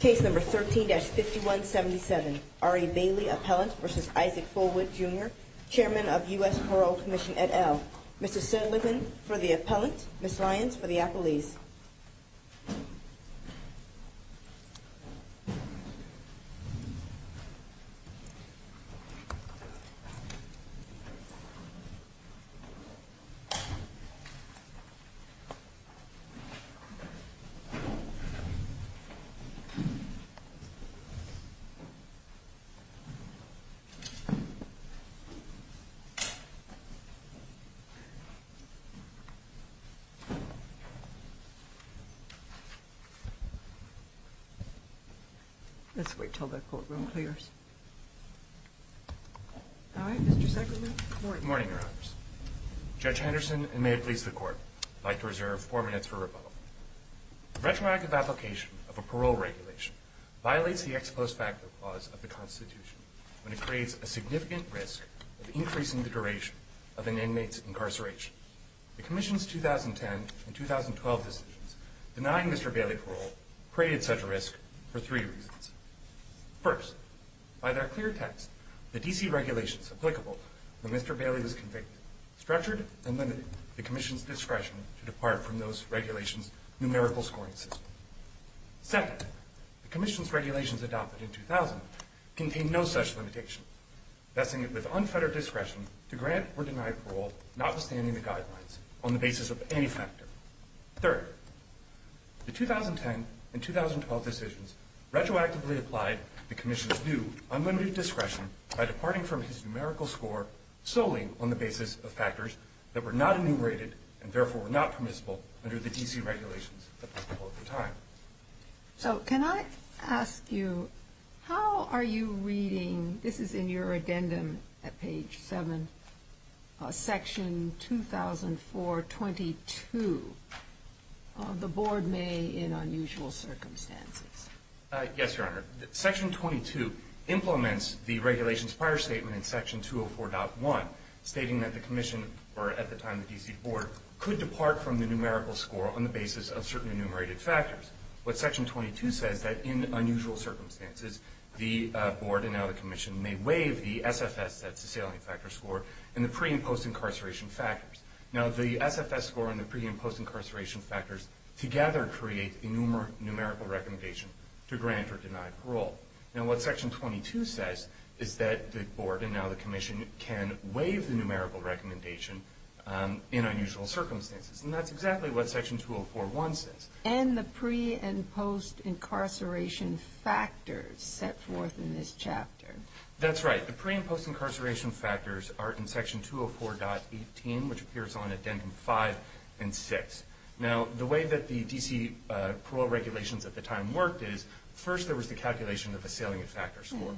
Case No. 13-5177, R.A. Bailey, Appellant v. Isaac Fulwood, Jr., Chairman of U.S. Parole Commission et al. Mr. Sullivan for the Appellant, Ms. Lyons for the Appellees. Let's wait until that courtroom clears. All right, Mr. Secretary, good morning. Good morning, Your Honors. Judge Henderson, and may it please the Court, I'd like to reserve four minutes for rebuttal. The retroactive application of a parole regulation violates the ex post facto clause of the Constitution when it creates a significant risk of increasing the duration of an inmate's incarceration. The Commission's 2010 and 2012 decisions denying Mr. Bailey parole created such a risk for three reasons. First, by their clear text, the D.C. regulations applicable when Mr. Bailey was convicted structured and limited the Commission's discretion to depart from those regulations' numerical scoring system. Second, the Commission's regulations adopted in 2000 contained no such limitation, vesting it with unfettered discretion to grant or deny parole notwithstanding the guidelines on the basis of any factor. Third, the 2010 and 2012 decisions retroactively applied the Commission's new, that were not enumerated and therefore were not permissible under the D.C. regulations applicable at the time. So can I ask you, how are you reading, this is in your addendum at page 7, Section 2004.22, The Board May in Unusual Circumstances. Yes, Your Honor. Section 22 implements the regulations' prior statement in Section 204.1, stating that the Commission, or at the time the D.C. Board, could depart from the numerical score on the basis of certain enumerated factors. But Section 22 says that in unusual circumstances, the Board, and now the Commission, may waive the SFS, that's the salient factor score, and the pre- and post-incarceration factors. Now, the SFS score and the pre- and post-incarceration factors together create the numerical recommendation to grant or deny parole. Now, what Section 22 says is that the Board, and now the Commission, can waive the numerical recommendation in unusual circumstances. And that's exactly what Section 204.1 says. And the pre- and post-incarceration factors set forth in this chapter. That's right. The pre- and post-incarceration factors are in Section 204.18, which appears on Addendum 5 and 6. Now, the way that the D.C. parole regulations at the time worked is, first there was the calculation of the salient factor score.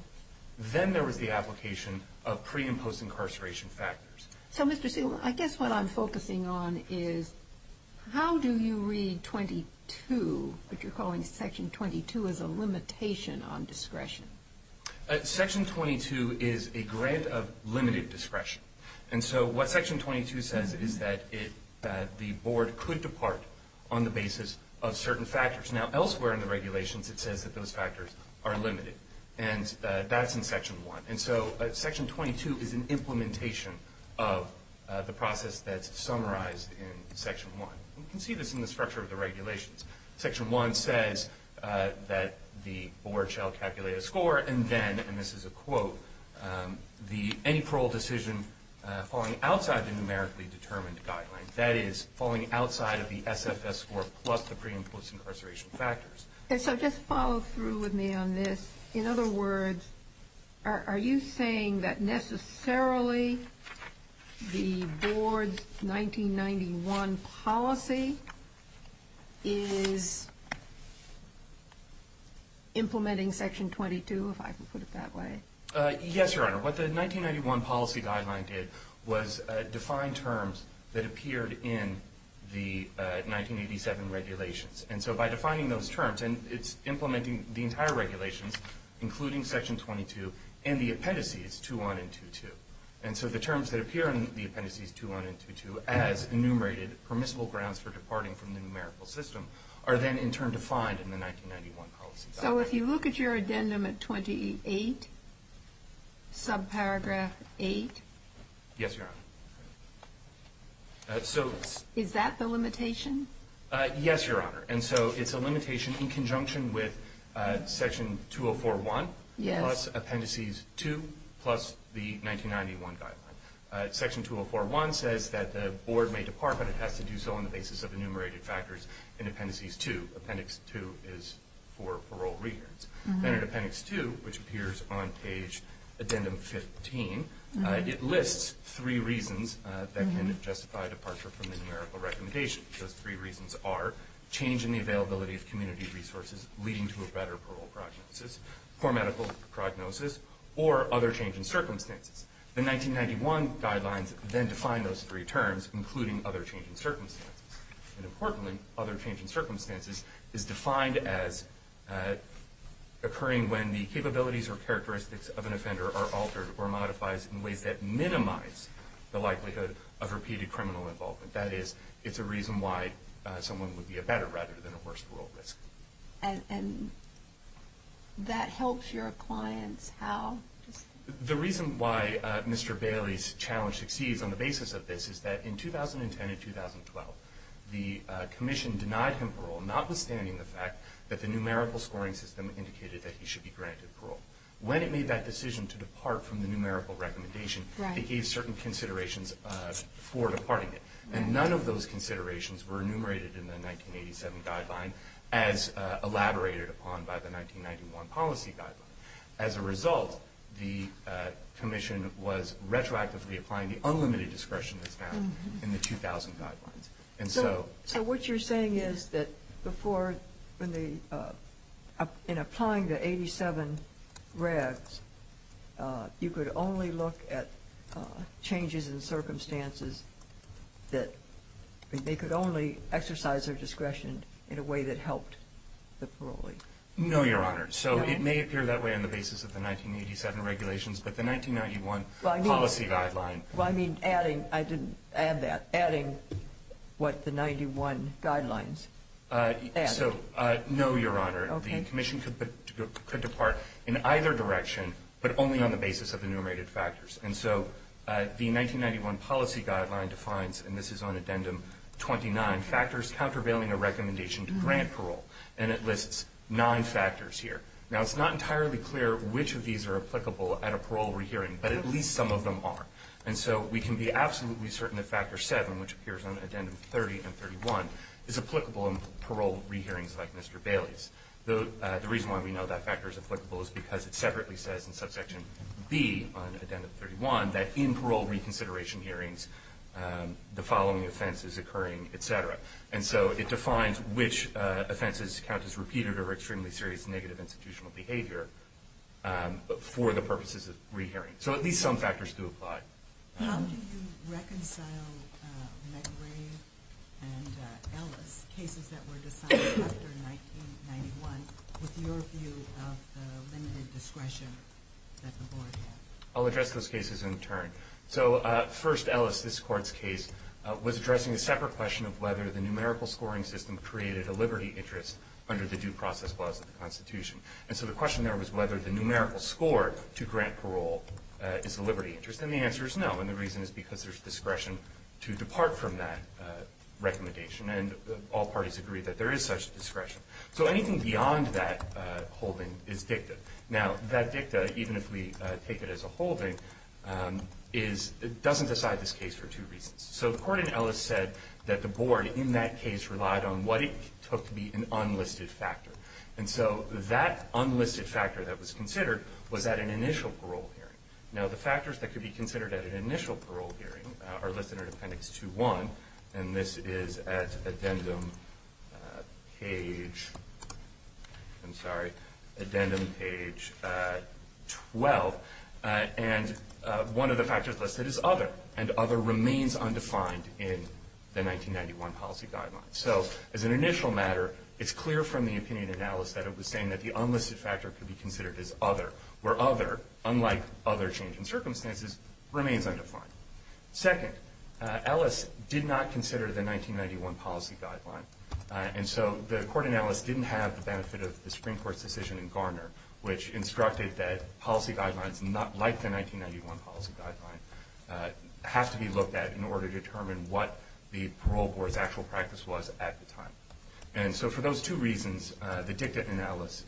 Then there was the application of pre- and post-incarceration factors. So, Mr. Segal, I guess what I'm focusing on is, how do you read 22, but you're calling Section 22 as a limitation on discretion? Section 22 is a grant of limited discretion. And so what Section 22 says is that the Board could depart on the basis of certain factors. Now, elsewhere in the regulations it says that those factors are limited, and that's in Section 1. And so Section 22 is an implementation of the process that's summarized in Section 1. We can see this in the structure of the regulations. Section 1 says that the Board shall calculate a score, and then, and this is a quote, the any parole decision falling outside the numerically determined guideline. That is, falling outside of the SFS score plus the pre- and post-incarceration factors. And so just follow through with me on this. In other words, are you saying that necessarily the Board's 1991 policy is implementing Section 22, if I can put it that way? Yes, Your Honor. What the 1991 policy guideline did was define terms that appeared in the 1987 regulations. And so by defining those terms, and it's implementing the entire regulations, including Section 22 and the appendices 2-1 and 2-2. And so the terms that appear in the appendices 2-1 and 2-2, as enumerated permissible grounds for departing from the numerical system, are then in turn defined in the 1991 policy guideline. So if you look at your addendum at 28, subparagraph 8. Yes, Your Honor. Is that the limitation? Yes, Your Honor. And so it's a limitation in conjunction with Section 204-1 plus appendices 2 plus the 1991 guideline. Section 204-1 says that the Board may depart, but it has to do so on the basis of enumerated factors in appendices 2. Appendix 2 is for parole rehearsals. Then in appendix 2, which appears on page addendum 15, it lists three reasons that can justify departure from the numerical recommendation. Those three reasons are change in the availability of community resources, leading to a better parole prognosis, poor medical prognosis, or other change in circumstances. The 1991 guidelines then define those three terms, including other change in circumstances. And importantly, other change in circumstances is defined as occurring when the capabilities or characteristics of an offender are altered or modifies in ways that minimize the likelihood of repeated criminal involvement. That is, it's a reason why someone would be a better rather than a worse parole risk. And that helps your clients how? The reason why Mr. Bailey's challenge succeeds on the basis of this is that in 2010 and 2012, the Commission denied him parole, notwithstanding the fact that the numerical scoring system indicated that he should be granted parole. When it made that decision to depart from the numerical recommendation, it gave certain considerations for departing it. And none of those considerations were enumerated in the 1987 guideline as elaborated upon by the 1991 policy guideline. As a result, the Commission was retroactively applying the unlimited discretion that's found in the 2000 guidelines. So what you're saying is that in applying the 87 regs, you could only look at changes in circumstances that they could only exercise their discretion in a way that helped the parolee? No, Your Honor. So it may appear that way on the basis of the 1987 regulations, but the 1991 policy guideline. Well, I mean adding. I didn't add that. Adding what the 91 guidelines added. So no, Your Honor. Okay. The Commission could depart in either direction, but only on the basis of enumerated factors. And so the 1991 policy guideline defines, and this is on addendum 29, factors countervailing a recommendation to grant parole. And it lists nine factors here. Now, it's not entirely clear which of these are applicable at a parole re-hearing, but at least some of them are. And so we can be absolutely certain that factor 7, which appears on addendum 30 and 31, is applicable in parole re-hearings like Mr. Bailey's. The reason why we know that factor is applicable is because it separately says in subsection B on addendum 31 And so it defines which offenses count as repeated or extremely serious negative institutional behavior for the purposes of re-hearing. So at least some factors do apply. How do you reconcile McRae and Ellis, cases that were decided after 1991, with your view of the limited discretion that the board had? I'll address those cases in turn. So first, Ellis, this Court's case, was addressing a separate question of whether the numerical scoring system created a liberty interest under the due process clause of the Constitution. And so the question there was whether the numerical score to grant parole is a liberty interest. And the answer is no. And the reason is because there's discretion to depart from that recommendation. And all parties agree that there is such discretion. So anything beyond that holding is dicta. Now, that dicta, even if we take it as a holding, doesn't decide this case for two reasons. So the Court in Ellis said that the board in that case relied on what it took to be an unlisted factor. And so that unlisted factor that was considered was at an initial parole hearing. Now, the factors that could be considered at an initial parole hearing are listed in Appendix 2.1. And this is at addendum page 12. And one of the factors listed is other. And other remains undefined in the 1991 policy guidelines. So as an initial matter, it's clear from the opinion in Ellis that it was saying that the unlisted factor could be considered as other, where other, unlike other change in circumstances, remains undefined. Second, Ellis did not consider the 1991 policy guideline. And so the Court in Ellis didn't have the benefit of the Supreme Court's decision in Garner, which instructed that policy guidelines not like the 1991 policy guideline have to be looked at in order to determine what the parole board's actual practice was at the time. And so for those two reasons, the dicta in Ellis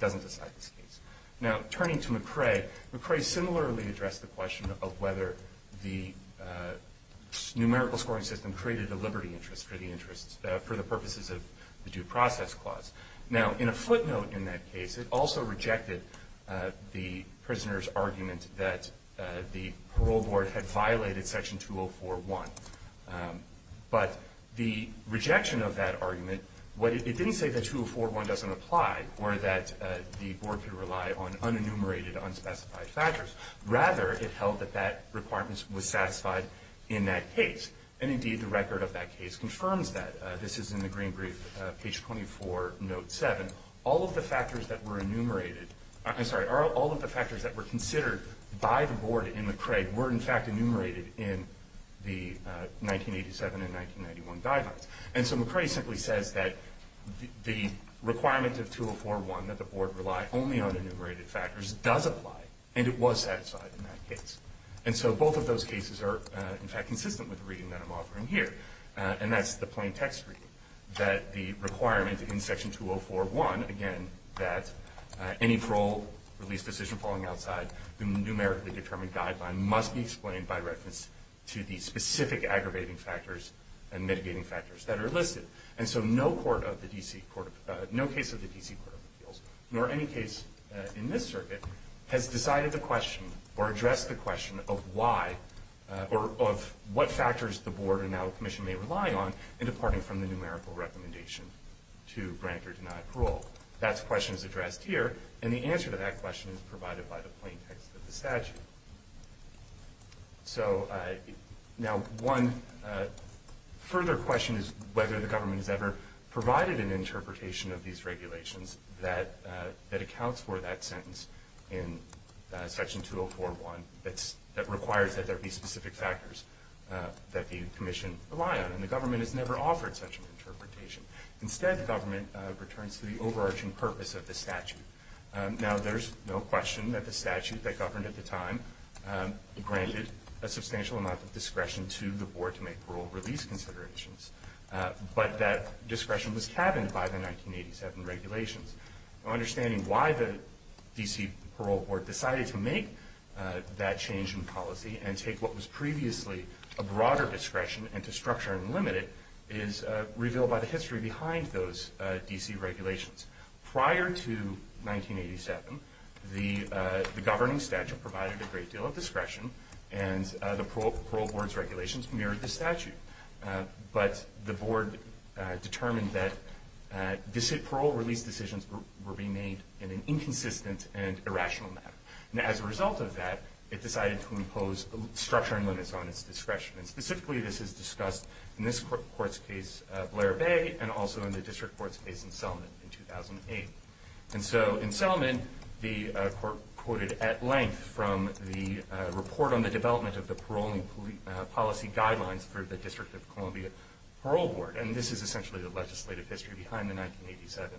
doesn't decide this case. Now, turning to McRae, McRae similarly addressed the question of whether the numerical scoring system created a liberty interest for the purposes of the due process clause. Now, in a footnote in that case, it also rejected the prisoner's argument that the parole board had violated Section 204.1. But the rejection of that argument, it didn't say that 204.1 doesn't apply or that the board could rely on unenumerated, unspecified factors. Rather, it held that that requirement was satisfied in that case. And indeed, the record of that case confirms that. This is in the green brief, page 24, note 7. All of the factors that were enumerated, I'm sorry, all of the factors that were considered by the board in McRae were, in fact, enumerated in the 1987 and 1991 guidelines. And so McRae simply says that the requirement of 204.1, that the board rely only on enumerated factors, does apply. And it was satisfied in that case. And so both of those cases are, in fact, consistent with the reading that I'm offering here. And that's the plain text reading, that the requirement in Section 204.1, again, that any parole release decision falling outside the numerically determined guideline must be explained by reference to the specific aggravating factors and mitigating factors that are listed. And so no case of the D.C. Court of Appeals, nor any case in this circuit, has decided the question or addressed the question of why, or of what factors the board and now commission may rely on in departing from the numerical recommendation to grant or deny parole. That question is addressed here. And the answer to that question is provided by the plain text of the statute. So now one further question is whether the government has ever provided an interpretation of these regulations that accounts for that sentence in Section 204.1 that requires that there be specific factors that the commission rely on. Instead, the government returns to the overarching purpose of the statute. Now, there's no question that the statute that governed at the time granted a substantial amount of discretion to the board to make parole release considerations. But that discretion was cabined by the 1987 regulations. Understanding why the D.C. Parole Board decided to make that change in policy and take what was previously a broader discretion and to structure and limit it is revealed by the history behind those D.C. regulations. Prior to 1987, the governing statute provided a great deal of discretion, and the parole board's regulations mirrored the statute. But the board determined that parole release decisions were being made in an inconsistent and irrational manner. And as a result of that, it decided to impose structure and limits on its discretion. Specifically, this is discussed in this court's case, Blair Bay, and also in the district court's case in Selman in 2008. And so in Selman, the court quoted at length from the report on the development of the paroling policy guidelines for the District of Columbia Parole Board, and this is essentially the legislative history behind the 1987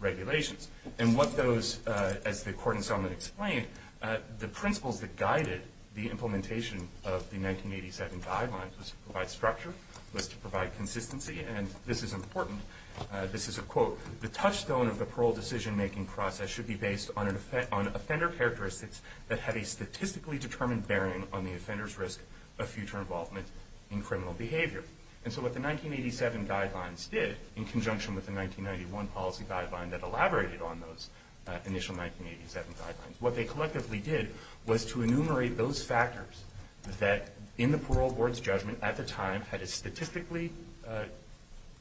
regulations. And what those, as the court in Selman explained, the principles that guided the implementation of the 1987 guidelines was to provide structure, was to provide consistency, and this is important. This is a quote. The touchstone of the parole decision-making process should be based on offender characteristics that have a statistically determined bearing on the offender's risk of future involvement in criminal behavior. And so what the 1987 guidelines did, in conjunction with the 1991 policy guideline that elaborated on those initial 1987 guidelines, what they collectively did was to enumerate those factors that, in the parole board's judgment at the time, had a statistically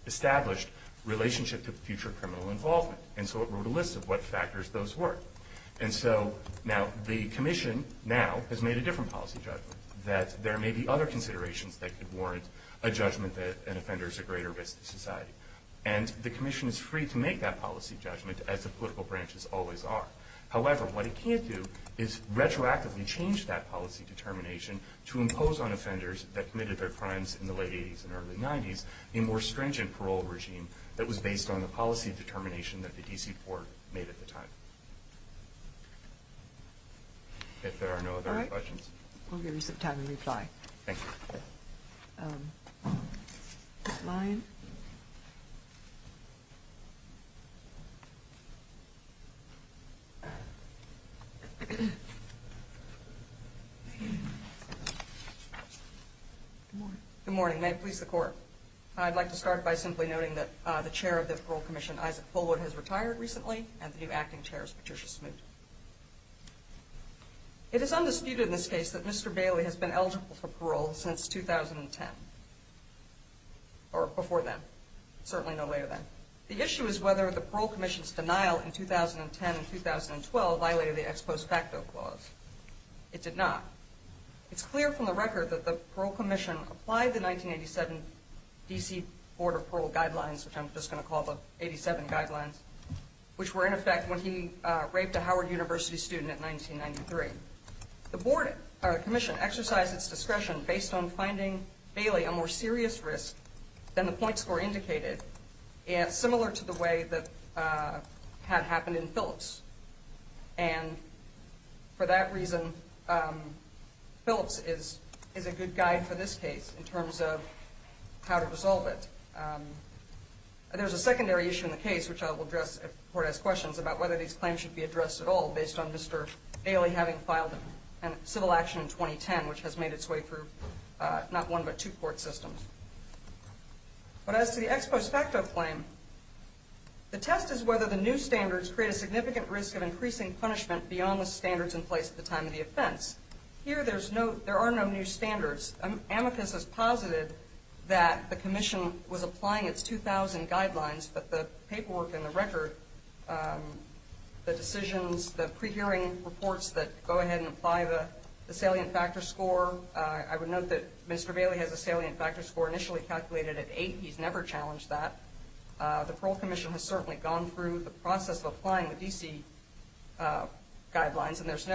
established relationship to future criminal involvement. And so it wrote a list of what factors those were. And so now the commission now has made a different policy judgment, that there may be other considerations that could warrant a judgment that an offender is at greater risk to society. And the commission is free to make that policy judgment, as the political branches always are. However, what it can't do is retroactively change that policy determination to impose on offenders that committed their crimes in the late 80s and early 90s a more stringent parole regime that was based on the policy determination that the D.C. court made at the time. If there are no other questions. All right. We'll give you some time to reply. Thank you. Next slide. Good morning. Good morning. May it please the Court. I'd like to start by simply noting that the chair of the Parole Commission, Isaac Fullwood, has retired recently, and the new acting chair is Patricia Smoot. It is undisputed in this case that Mr. Bailey has been eligible for parole since 2010, or before then, certainly no later than. The issue is whether the Parole Commission's denial in 2010 and 2012 violated the ex post facto clause. It did not. It's clear from the record that the Parole Commission applied the 1987 D.C. Board of Parole Guidelines, which I'm just going to call the 87 Guidelines, which were in effect when he raped a Howard University student in 1993. The commission exercised its discretion based on finding Bailey a more serious risk than the point score indicated, similar to the way that had happened in Phillips. And for that reason, Phillips is a good guide for this case in terms of how to resolve it. There's a secondary issue in the case, which I will address if the Court has questions, about whether these claims should be addressed at all based on Mr. Bailey having filed a civil action in 2010, which has made its way through not one but two court systems. But as to the ex post facto claim, the test is whether the new standards create a significant risk of increasing punishment beyond the standards in place at the time of the offense. Here, there are no new standards. Amicus has posited that the commission was applying its 2000 guidelines, but the paperwork in the record, the decisions, the pre-hearing reports that go ahead and apply the salient factor score, I would note that Mr. Bailey has a salient factor score initially calculated at 8. He's never challenged that. The Parole Commission has certainly gone through the process of applying the D.C. guidelines, and there's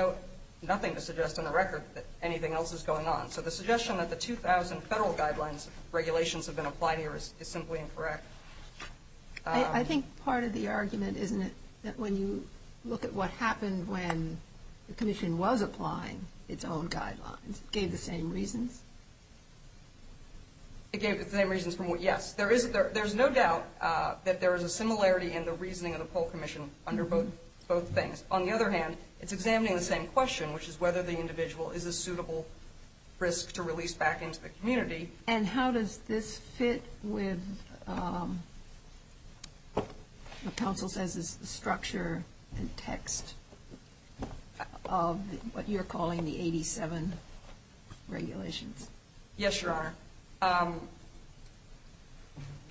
nothing to suggest in the record that anything else is going on. So the suggestion that the 2000 Federal guidelines regulations have been applied here is simply incorrect. I think part of the argument, isn't it, that when you look at what happened when the commission was applying its own guidelines, it gave the same reasons? It gave the same reasons from what, yes. There is no doubt that there is a similarity in the reasoning of the Parole Commission under both things. On the other hand, it's examining the same question, which is whether the individual is a suitable risk to release back into the community. And how does this fit with what counsel says is the structure and text of what you're calling the 87 regulations? Yes, Your Honor.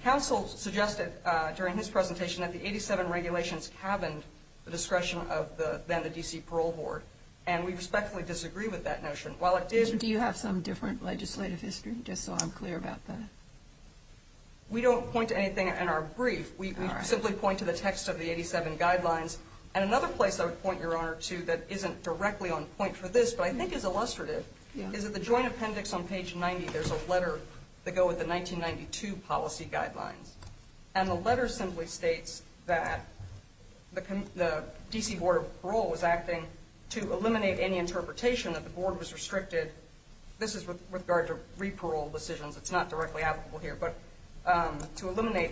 Counsel suggested during his presentation that the 87 regulations the discretion of then the D.C. parole board. And we respectfully disagree with that notion. Do you have some different legislative history, just so I'm clear about that? We don't point to anything in our brief. We simply point to the text of the 87 guidelines. And another place I would point, Your Honor, to that isn't directly on point for this, but I think is illustrative, is that the joint appendix on page 90, there's a letter that go with the 1992 policy guidelines. And the letter simply states that the D.C. Board of Parole was acting to eliminate any interpretation that the board was restricted. This is with regard to re-parole decisions. It's not directly applicable here. But to eliminate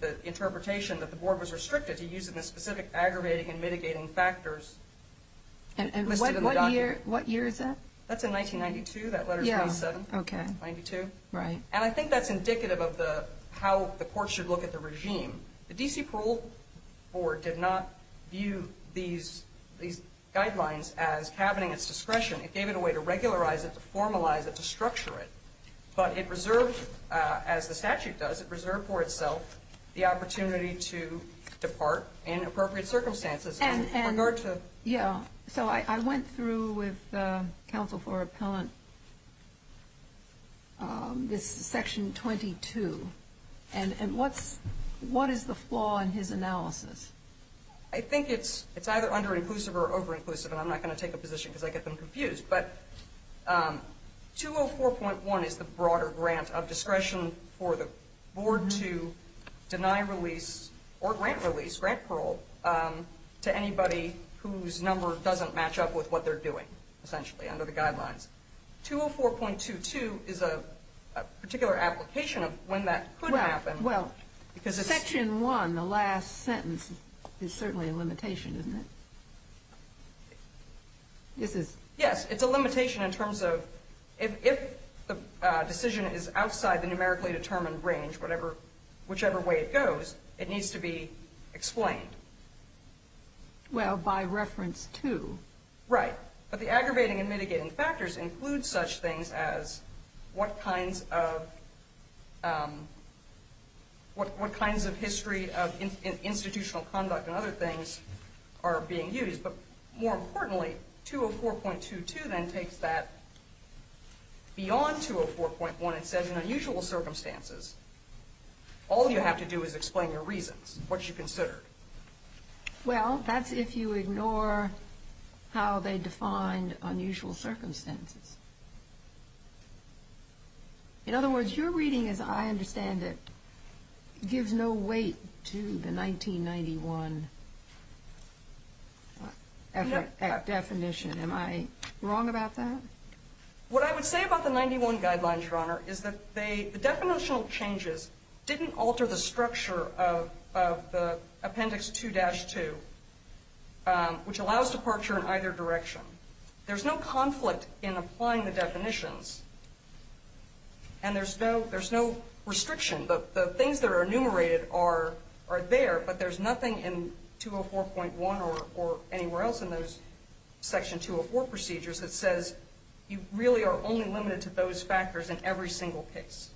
the interpretation that the board was restricted to using the specific aggravating and mitigating factors listed in the document. And what year is that? That's in 1992. That letter is 87. Okay. 92. Right. And I think that's indicative of how the court should look at the regime. The D.C. Parole Board did not view these guidelines as having its discretion. It gave it a way to regularize it, to formalize it, to structure it. But it reserved, as the statute does, it reserved for itself the opportunity to depart in appropriate circumstances. Yeah. So I went through with counsel for appellant this section 22. And what is the flaw in his analysis? I think it's either under-inclusive or over-inclusive. And I'm not going to take a position because I get them confused. But 204.1 is the broader grant of discretion for the board to deny release or grant release, grant parole, to anybody whose number doesn't match up with what they're doing, essentially, under the guidelines. 204.22 is a particular application of when that could happen. Well, Section 1, the last sentence, is certainly a limitation, isn't it? Yes, it's a limitation in terms of if the decision is outside the numerically determined range, whichever way it goes, it needs to be explained. Well, by reference to. Right. But the aggravating and mitigating factors include such things as what kinds of history of institutional conduct and other things are being used. But more importantly, 204.22 then takes that beyond 204.1 and says, in unusual circumstances, all you have to do is explain your reasons, what you considered. Well, that's if you ignore how they defined unusual circumstances. In other words, your reading, as I understand it, gives no weight to the 1991 definition. Am I wrong about that? What I would say about the 91 guidelines, Your Honor, is that the definitional changes didn't alter the structure of Appendix 2-2, which allows departure in either direction. There's no conflict in applying the definitions, and there's no restriction. The things that are enumerated are there, but there's nothing in 204.1 or anywhere else in those Section 204 procedures that says you really are only limited to those factors in every single case.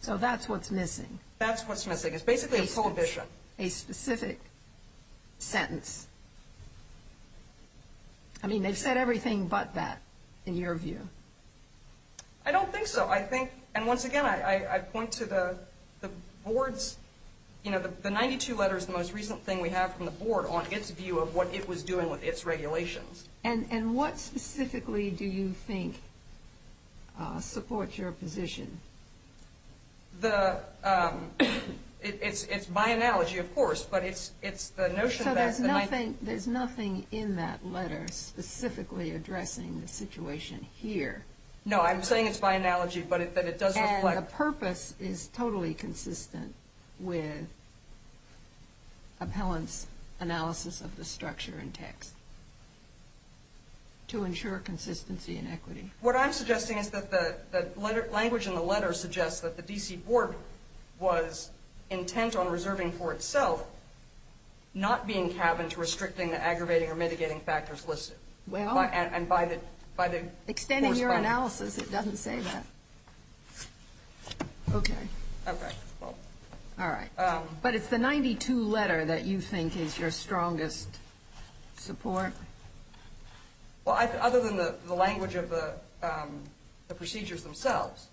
So that's what's missing. That's what's missing. It's basically a prohibition. A specific sentence. I mean, they've said everything but that, in your view. I don't think so. I think, and once again, I point to the Board's, you know, the 92 letters, the most recent thing we have from the Board on its view of what it was doing with its regulations. And what specifically do you think supports your position? The, it's by analogy, of course, but it's the notion that the 92 letters I think there's nothing in that letter specifically addressing the situation here. No, I'm saying it's by analogy, but that it does reflect. And the purpose is totally consistent with Appellant's analysis of the structure and text to ensure consistency and equity. What I'm suggesting is that the language in the letter suggests that the D.C. Board was intent on reserving for itself, not being cabin to restricting, aggravating, or mitigating factors listed. Well. And by the. Extending your analysis, it doesn't say that. Okay. Okay, well. All right. But it's the 92 letter that you think is your strongest support. Well, other than the language of the procedures themselves.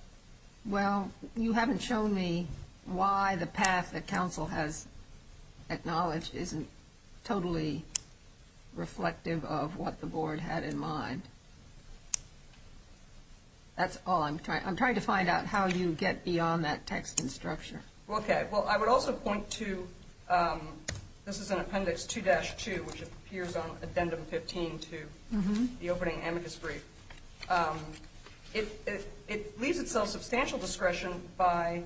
Well, you haven't shown me why the path that counsel has acknowledged isn't totally reflective of what the board had in mind. That's all I'm trying. I'm trying to find out how you get beyond that text and structure. Okay. Well, I would also point to, this is an appendix 2-2, which appears on addendum 15 to the opening amicus brief. It leaves itself substantial discretion by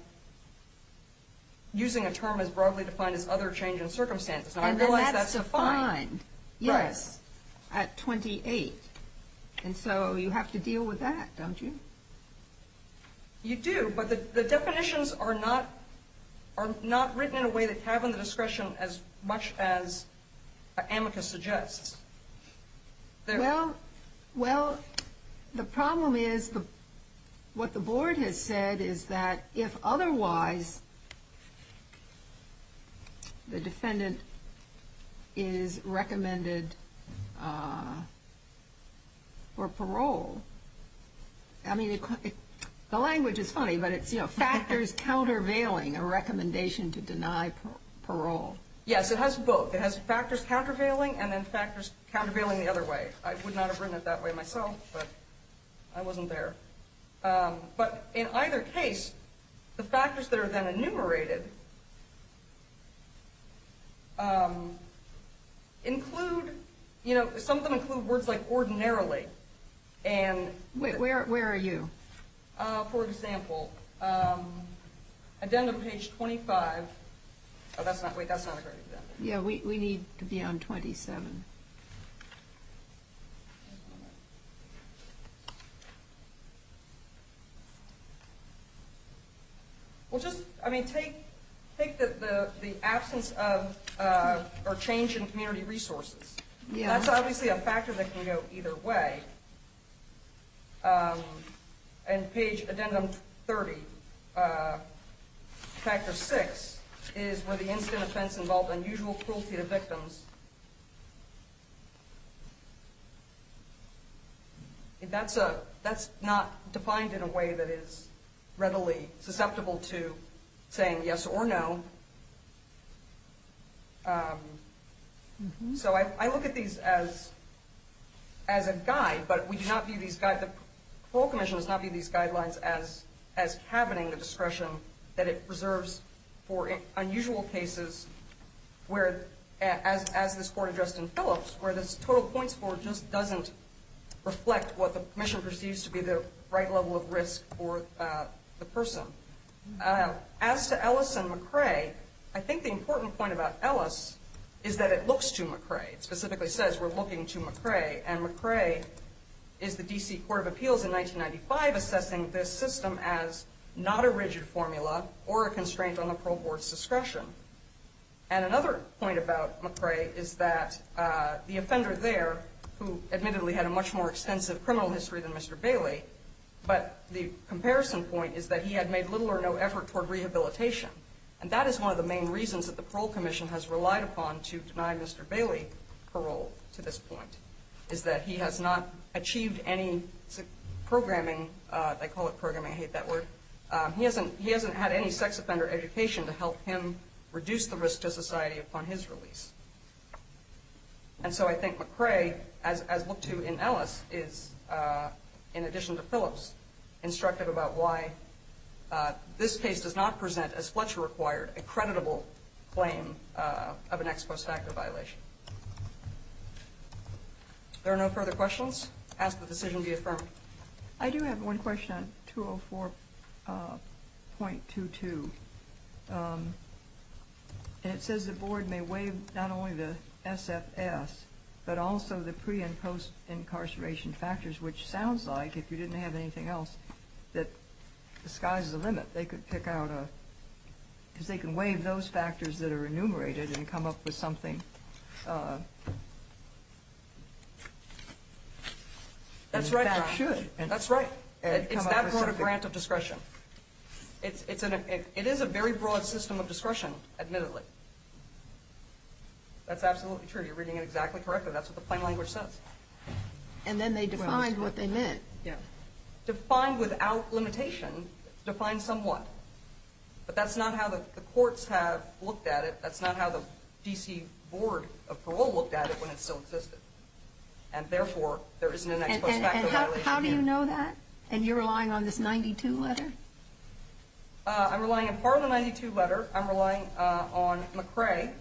using a term as broadly defined as other change in circumstances. And I realize that's fine. And that's defined. Yes. At 28. And so you have to deal with that, don't you? You do. But the definitions are not written in a way that have the discretion as much as amicus suggests. Well, the problem is what the board has said is that if otherwise the defendant is recommended for parole, I mean, the language is funny, but it's factors countervailing a recommendation to deny parole. Yes. It has both. It has factors countervailing and then factors countervailing the other way. I would not have written it that way myself, but I wasn't there. But in either case, the factors that are then enumerated include, you know, some of them include words like ordinarily. Where are you? For example, addendum page 25. Oh, wait, that's not a great addendum. Yeah, we need to be on 27. Well, just, I mean, take the absence of or change in community resources. That's obviously a factor that can go either way. And page addendum 30, factor six, is where the incident offense involved unusual cruelty to victims. That's not defined in a way that is readily susceptible to saying yes or no. So I look at these as a guide, but we do not view these guidelines, the Parole Commission does not view these guidelines as cabining the discretion that it preserves for unusual cases where, as this court addressed in Phillips, where this total points for just doesn't reflect what the commission perceives to be the right level of risk for the person. As to Ellis and McRae, I think the important point about Ellis is that it looks to McRae. It specifically says we're looking to McRae, and McRae is the D.C. Court of Appeals in 1995 assessing this system as not a rigid formula or a constraint on the parole board's discretion. And another point about McRae is that the offender there, who admittedly had a much more extensive criminal history than Mr. Bailey, but the comparison point is that he had made little or no effort toward rehabilitation. And that is one of the main reasons that the Parole Commission has relied upon to deny Mr. Bailey parole to this point, is that he has not achieved any programming. They call it programming. I hate that word. He hasn't had any sex offender education to help him reduce the risk to society upon his release. And so I think McRae, as looked to in Ellis, is, in addition to Phillips, instructive about why this case does not present, as Fletcher required, a creditable claim of an ex post facto violation. If there are no further questions, I ask that the decision be affirmed. I do have one question on 204.22. And it says the board may waive not only the SFS, but also the pre- and post-incarceration factors, which sounds like, if you didn't have anything else, that the sky's the limit. They could pick out a – because they can waive those factors that are enumerated and come up with something that should. That's right. It's that sort of grant of discretion. It is a very broad system of discretion, admittedly. That's absolutely true. You're reading it exactly correctly. That's what the plain language says. And then they defined what they meant. Yeah. Defined without limitation, defined somewhat. But that's not how the courts have looked at it. That's not how the D.C. Board of Parole looked at it when it still existed. And therefore, there isn't an ex post facto violation here. And how do you know that? And you're relying on this 92 letter? I'm relying on part of the 92 letter. I'm relying on McCrae,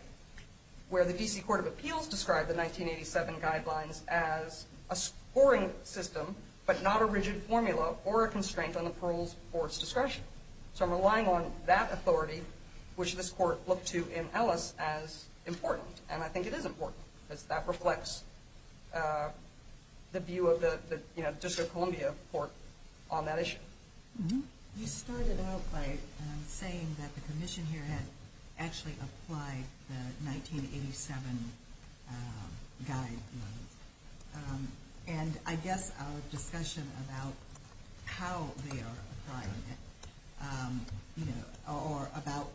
where the D.C. Court of Appeals described the 1987 guidelines as a scoring system, but not a rigid formula or a constraint on the parole board's discretion. So I'm relying on that authority, which this court looked to in Ellis, as important. And I think it is important because that reflects the view of the District of Columbia court on that issue. You started out by saying that the commission here had actually applied the 1987 guidelines. And I guess our discussion about how they are applying it, or about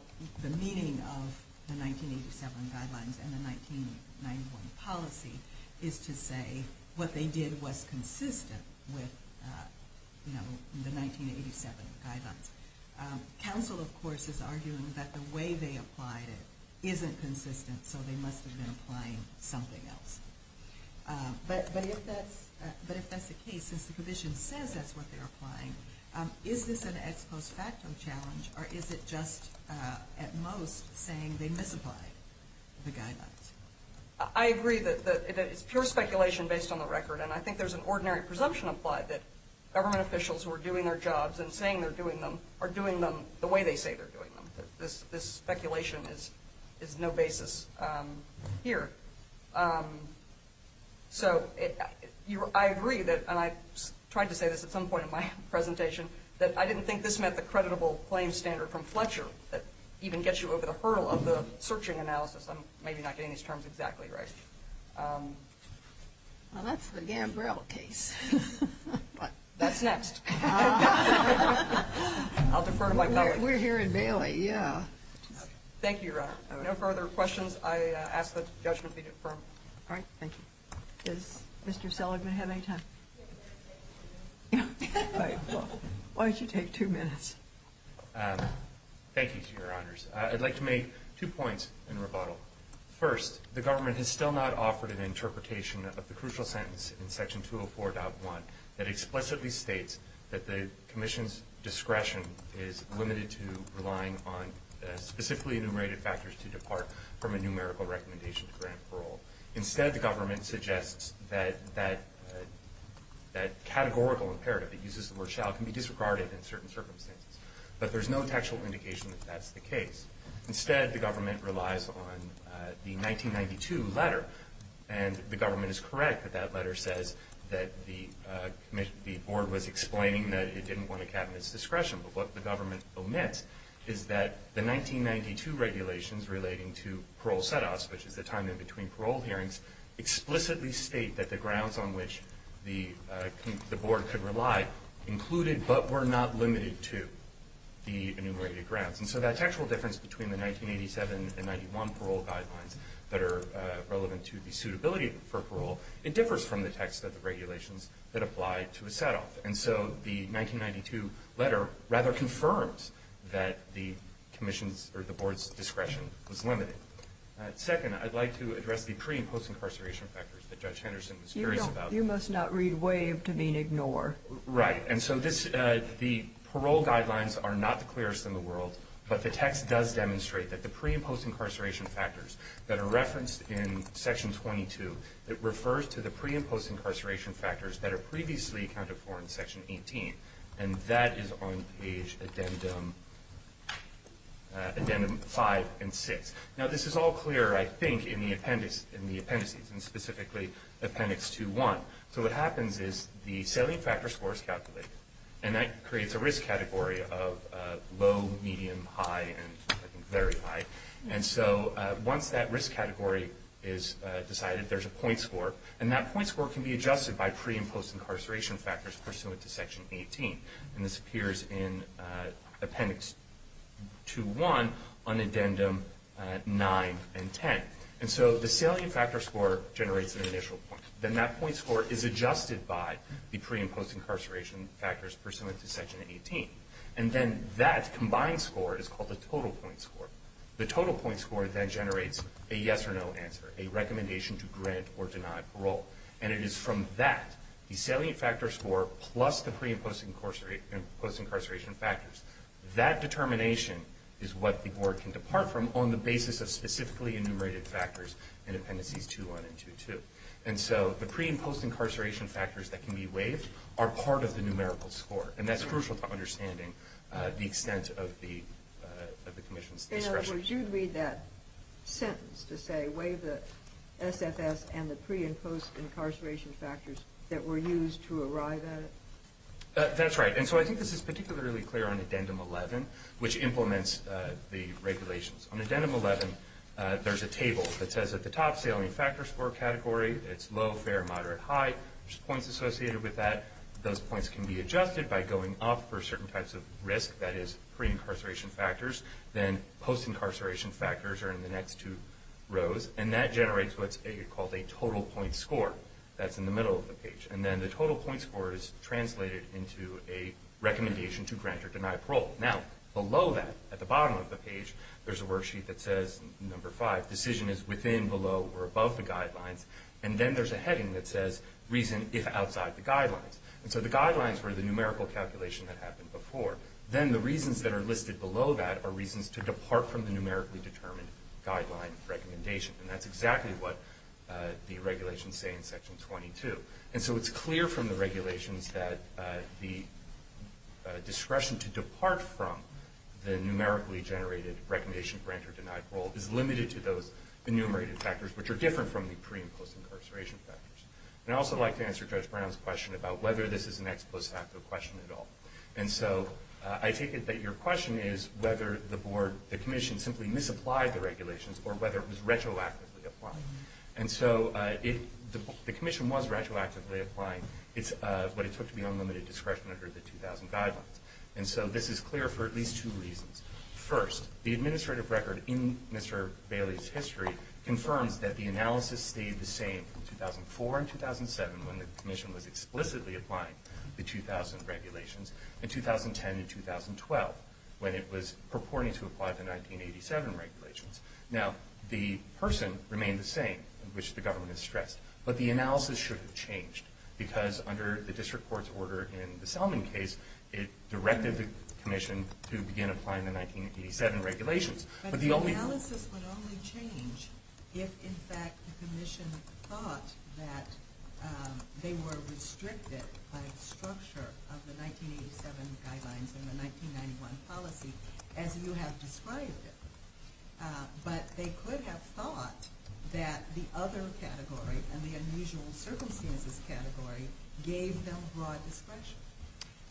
the meaning of the 1987 guidelines and the 1991 policy, is to say what they did was consistent with the 1987 guidelines. Counsel, of course, is arguing that the way they applied it isn't consistent, so they must have been applying something else. But if that's the case, since the commission says that's what they're applying, is this an ex post facto challenge, or is it just at most saying they misapplied the guidelines? I agree that it's pure speculation based on the record, and I think there's an ordinary presumption applied that government officials who are doing their jobs and saying they're doing them are doing them the way they say they're doing them. This speculation is no basis here. So I agree that, and I tried to say this at some point in my presentation, that I didn't think this meant the creditable claim standard from Fletcher that even gets you over the hurdle of the searching analysis. I'm maybe not getting these terms exactly right. Well, that's the Gambrell case. That's next. I'll defer to my colleagues. We're here in Bailey, yeah. Thank you, Your Honor. No further questions. I ask that judgment be confirmed. All right. Thank you. Does Mr. Seligman have any time? Why don't you take two minutes? Thank you, Your Honors. I'd like to make two points in rebuttal. First, the government has still not offered an interpretation of the crucial sentence in Section 204.1 that explicitly states that the commission's discretion is limited to relying on specifically enumerated factors to depart from a numerical recommendation to grant parole. Instead, the government suggests that that categorical imperative, it uses the word shall, can be disregarded in certain circumstances. But there's no textual indication that that's the case. Instead, the government relies on the 1992 letter, and the government is correct that that letter says that the board was explaining that it didn't want a cabinet's discretion. But what the government omits is that the 1992 regulations relating to parole set-offs, which is the time in between parole hearings, explicitly state that the grounds on which the board could rely included but were not limited to the enumerated grounds. And so that textual difference between the 1987 and 1991 parole guidelines that are relevant to the suitability for parole, it differs from the text of the regulations that apply to a set-off. And so the 1992 letter rather confirms that the commission's or the board's discretion was limited. Second, I'd like to address the pre- and post-incarceration factors that Judge Henderson was curious about. You must not read waive to mean ignore. Right. And so the parole guidelines are not the clearest in the world, but the text does demonstrate that the pre- and post-incarceration factors that are referenced in Section 22, it refers to the pre- and post-incarceration factors that are previously accounted for in Section 18. And that is on page addendum 5 and 6. Now, this is all clear, I think, in the appendices, and specifically Appendix 2.1. So what happens is the selling factor score is calculated, and that creates a risk category of low, medium, high, and very high. And so once that risk category is decided, there's a point score, and that point score can be adjusted by pre- and post-incarceration factors pursuant to Section 18. And this appears in Appendix 2.1 on addendum 9 and 10. And so the selling factor score generates an initial point. Then that point score is adjusted by the pre- and post-incarceration factors pursuant to Section 18. And then that combined score is called the total point score. The total point score then generates a yes or no answer, a recommendation to grant or deny parole. And it is from that, the selling factor score plus the pre- and post-incarceration factors, that determination is what the board can depart from on the basis of specifically enumerated factors in Appendices 2.1 and 2.2. And so the pre- and post-incarceration factors that can be waived are part of the numerical score, and that's crucial to understanding the extent of the commission's discretion. Would you read that sentence to say waive the SFS and the pre- and post-incarceration factors that were used to arrive at it? That's right. And so I think this is particularly clear on addendum 11, which implements the regulations. On addendum 11, there's a table that says at the top, selling factor score category. It's low, fair, moderate, high. There's points associated with that. Those points can be adjusted by going up for certain types of risk, that is, pre-incarceration factors. Then post-incarceration factors are in the next two rows, and that generates what's called a total point score. That's in the middle of the page. And then the total point score is translated into a recommendation to grant or deny parole. Now, below that, at the bottom of the page, there's a worksheet that says, number five, decision is within, below, or above the guidelines. And then there's a heading that says, reason if outside the guidelines. And so the guidelines were the numerical calculation that happened before. Then the reasons that are listed below that are reasons to depart from the numerically determined guideline recommendation, and that's exactly what the regulations say in Section 22. And so it's clear from the regulations that the discretion to depart from the numerically generated recommendation to grant or deny parole is limited to those enumerated factors, which are different from the pre- and post-incarceration factors. And I'd also like to answer Judge Brown's question about whether this is an ex post facto question at all. And so I take it that your question is whether the Commission simply misapplied the regulations or whether it was retroactively applying. And so the Commission was retroactively applying what it took to be unlimited discretion under the 2000 guidelines. And so this is clear for at least two reasons. First, the administrative record in Mr. Bailey's history confirms that the analysis stayed the same from 2004 and 2007 when the Commission was explicitly applying the 2000 regulations, and 2010 and 2012 when it was purporting to apply the 1987 regulations. Now, the person remained the same, which the government has stressed. But the analysis should have changed because under the district court's order in the Selman case, it directed the Commission to begin applying the 1987 regulations. But the analysis would only change if, in fact, the Commission thought that they were restricted by the structure of the 1987 guidelines and the 1991 policy as you have described it. But they could have thought that the other category, and the unusual circumstances category, gave them broad discretion.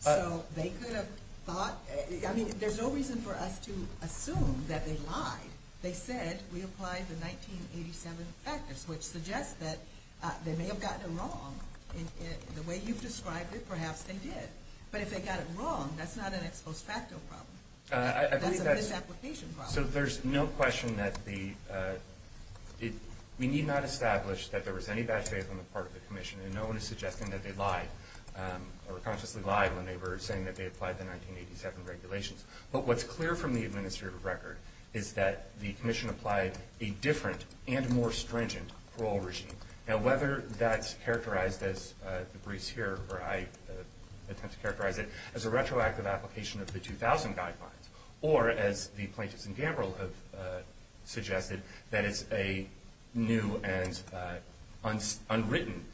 So they could have thought – I mean, there's no reason for us to assume that they lied. They said we applied the 1987 factors, which suggests that they may have gotten it wrong. The way you've described it, perhaps they did. But if they got it wrong, that's not an ex post facto problem. That's a misapplication problem. So there's no question that the – we need not establish that there was any bad faith on the part of the Commission, and no one is suggesting that they lied or consciously lied when they were saying that they applied the 1987 regulations. But what's clear from the administrative record is that the Commission applied a different and more stringent parole regime. Now, whether that's characterized, as the briefs here where I attempt to characterize it, as a retroactive application of the 2000 guidelines or, as the plaintiffs in Gamble have suggested, that it's a new and unwritten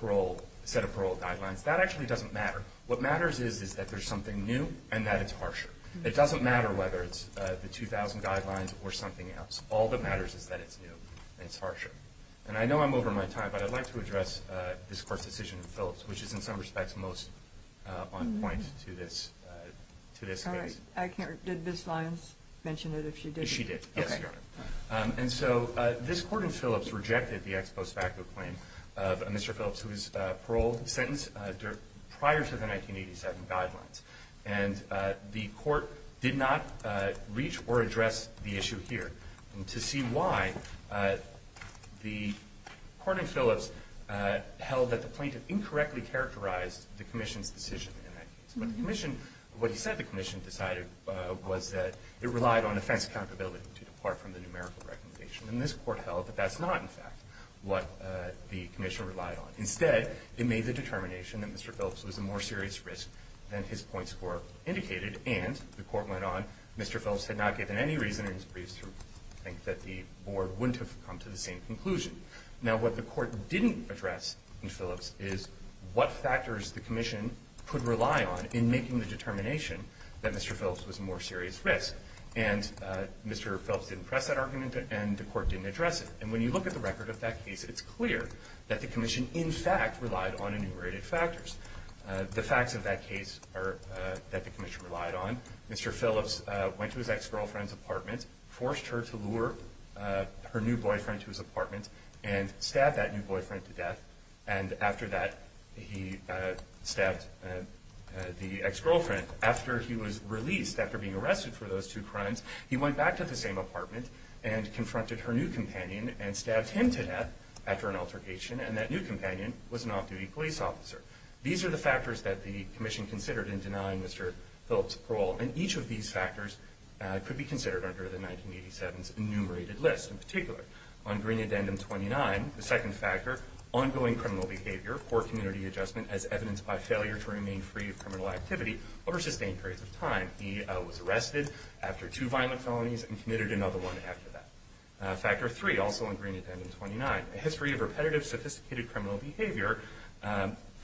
parole – set of parole guidelines, that actually doesn't matter. What matters is that there's something new and that it's harsher. It doesn't matter whether it's the 2000 guidelines or something else. All that matters is that it's new and it's harsher. And I know I'm over my time, but I'd like to address this Court's decision in Phillips, which is in some respects most on point to this case. All right. Did Ms. Lyons mention it, if she did? She did, yes, Your Honor. And so this Court in Phillips rejected the ex post facto claim of Mr. Phillips, whose parole sentence prior to the 1987 guidelines. And the Court did not reach or address the issue here. And to see why, the Court in Phillips held that the plaintiff incorrectly characterized the Commission's decision in that case. What he said the Commission decided was that it relied on offense accountability to depart from the numerical recommendation. And this Court held that that's not, in fact, what the Commission relied on. Instead, it made the determination that Mr. Phillips was a more serious risk than his point score indicated. And the Court went on, Mr. Phillips had not given any reason in his briefs to think that the Board wouldn't have come to the same conclusion. Now, what the Court didn't address in Phillips is what factors the Commission could rely on in making the determination that Mr. Phillips was a more serious risk. And Mr. Phillips didn't press that argument, and the Court didn't address it. And when you look at the record of that case, it's clear that the Commission, in fact, relied on enumerated factors. The facts of that case are that the Commission relied on. Mr. Phillips went to his ex-girlfriend's apartment, forced her to lure her new boyfriend to his apartment, and stabbed that new boyfriend to death. And after that, he stabbed the ex-girlfriend. After he was released, after being arrested for those two crimes, he went back to the same apartment and confronted her new companion and stabbed him to death after an altercation. And that new companion was an off-duty police officer. These are the factors that the Commission considered in denying Mr. Phillips parole. And each of these factors could be considered under the 1987's enumerated list. On Green Addendum 29, the second factor, ongoing criminal behavior or community adjustment as evidenced by failure to remain free of criminal activity over sustained periods of time. He was arrested after two violent felonies and committed another one after that. Factor three, also on Green Addendum 29, a history of repetitive, sophisticated criminal behavior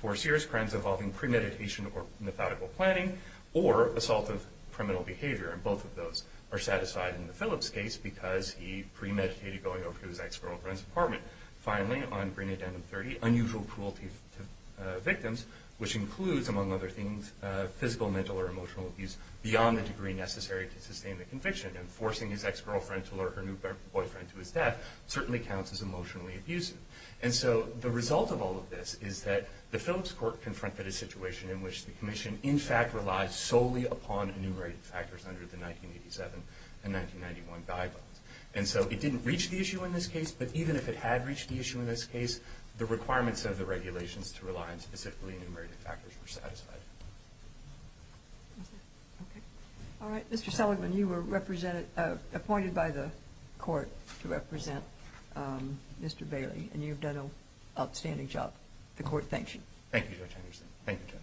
for serious crimes involving premeditation or methodical planning or assault of criminal behavior. And both of those are satisfied in the Phillips case because he premeditated going over to his ex-girlfriend's apartment. Finally, on Green Addendum 30, unusual cruelty to victims, which includes, among other things, physical, mental, or emotional abuse beyond the degree necessary to sustain the conviction. And forcing his ex-girlfriend to lure her new boyfriend to his death certainly counts as emotionally abusive. And so the result of all of this is that the Phillips Court confronted a situation in which the Commission, in fact, relies solely upon enumerated factors under the 1987 and 1991 guidelines. And so it didn't reach the issue in this case, but even if it had reached the issue in this case, the requirements of the regulations to rely on specifically enumerated factors were satisfied. All right. Mr. Seligman, you were appointed by the Court to represent Mr. Bailey, and you've done an outstanding job. The Court thanks you. Thank you, Judge Anderson.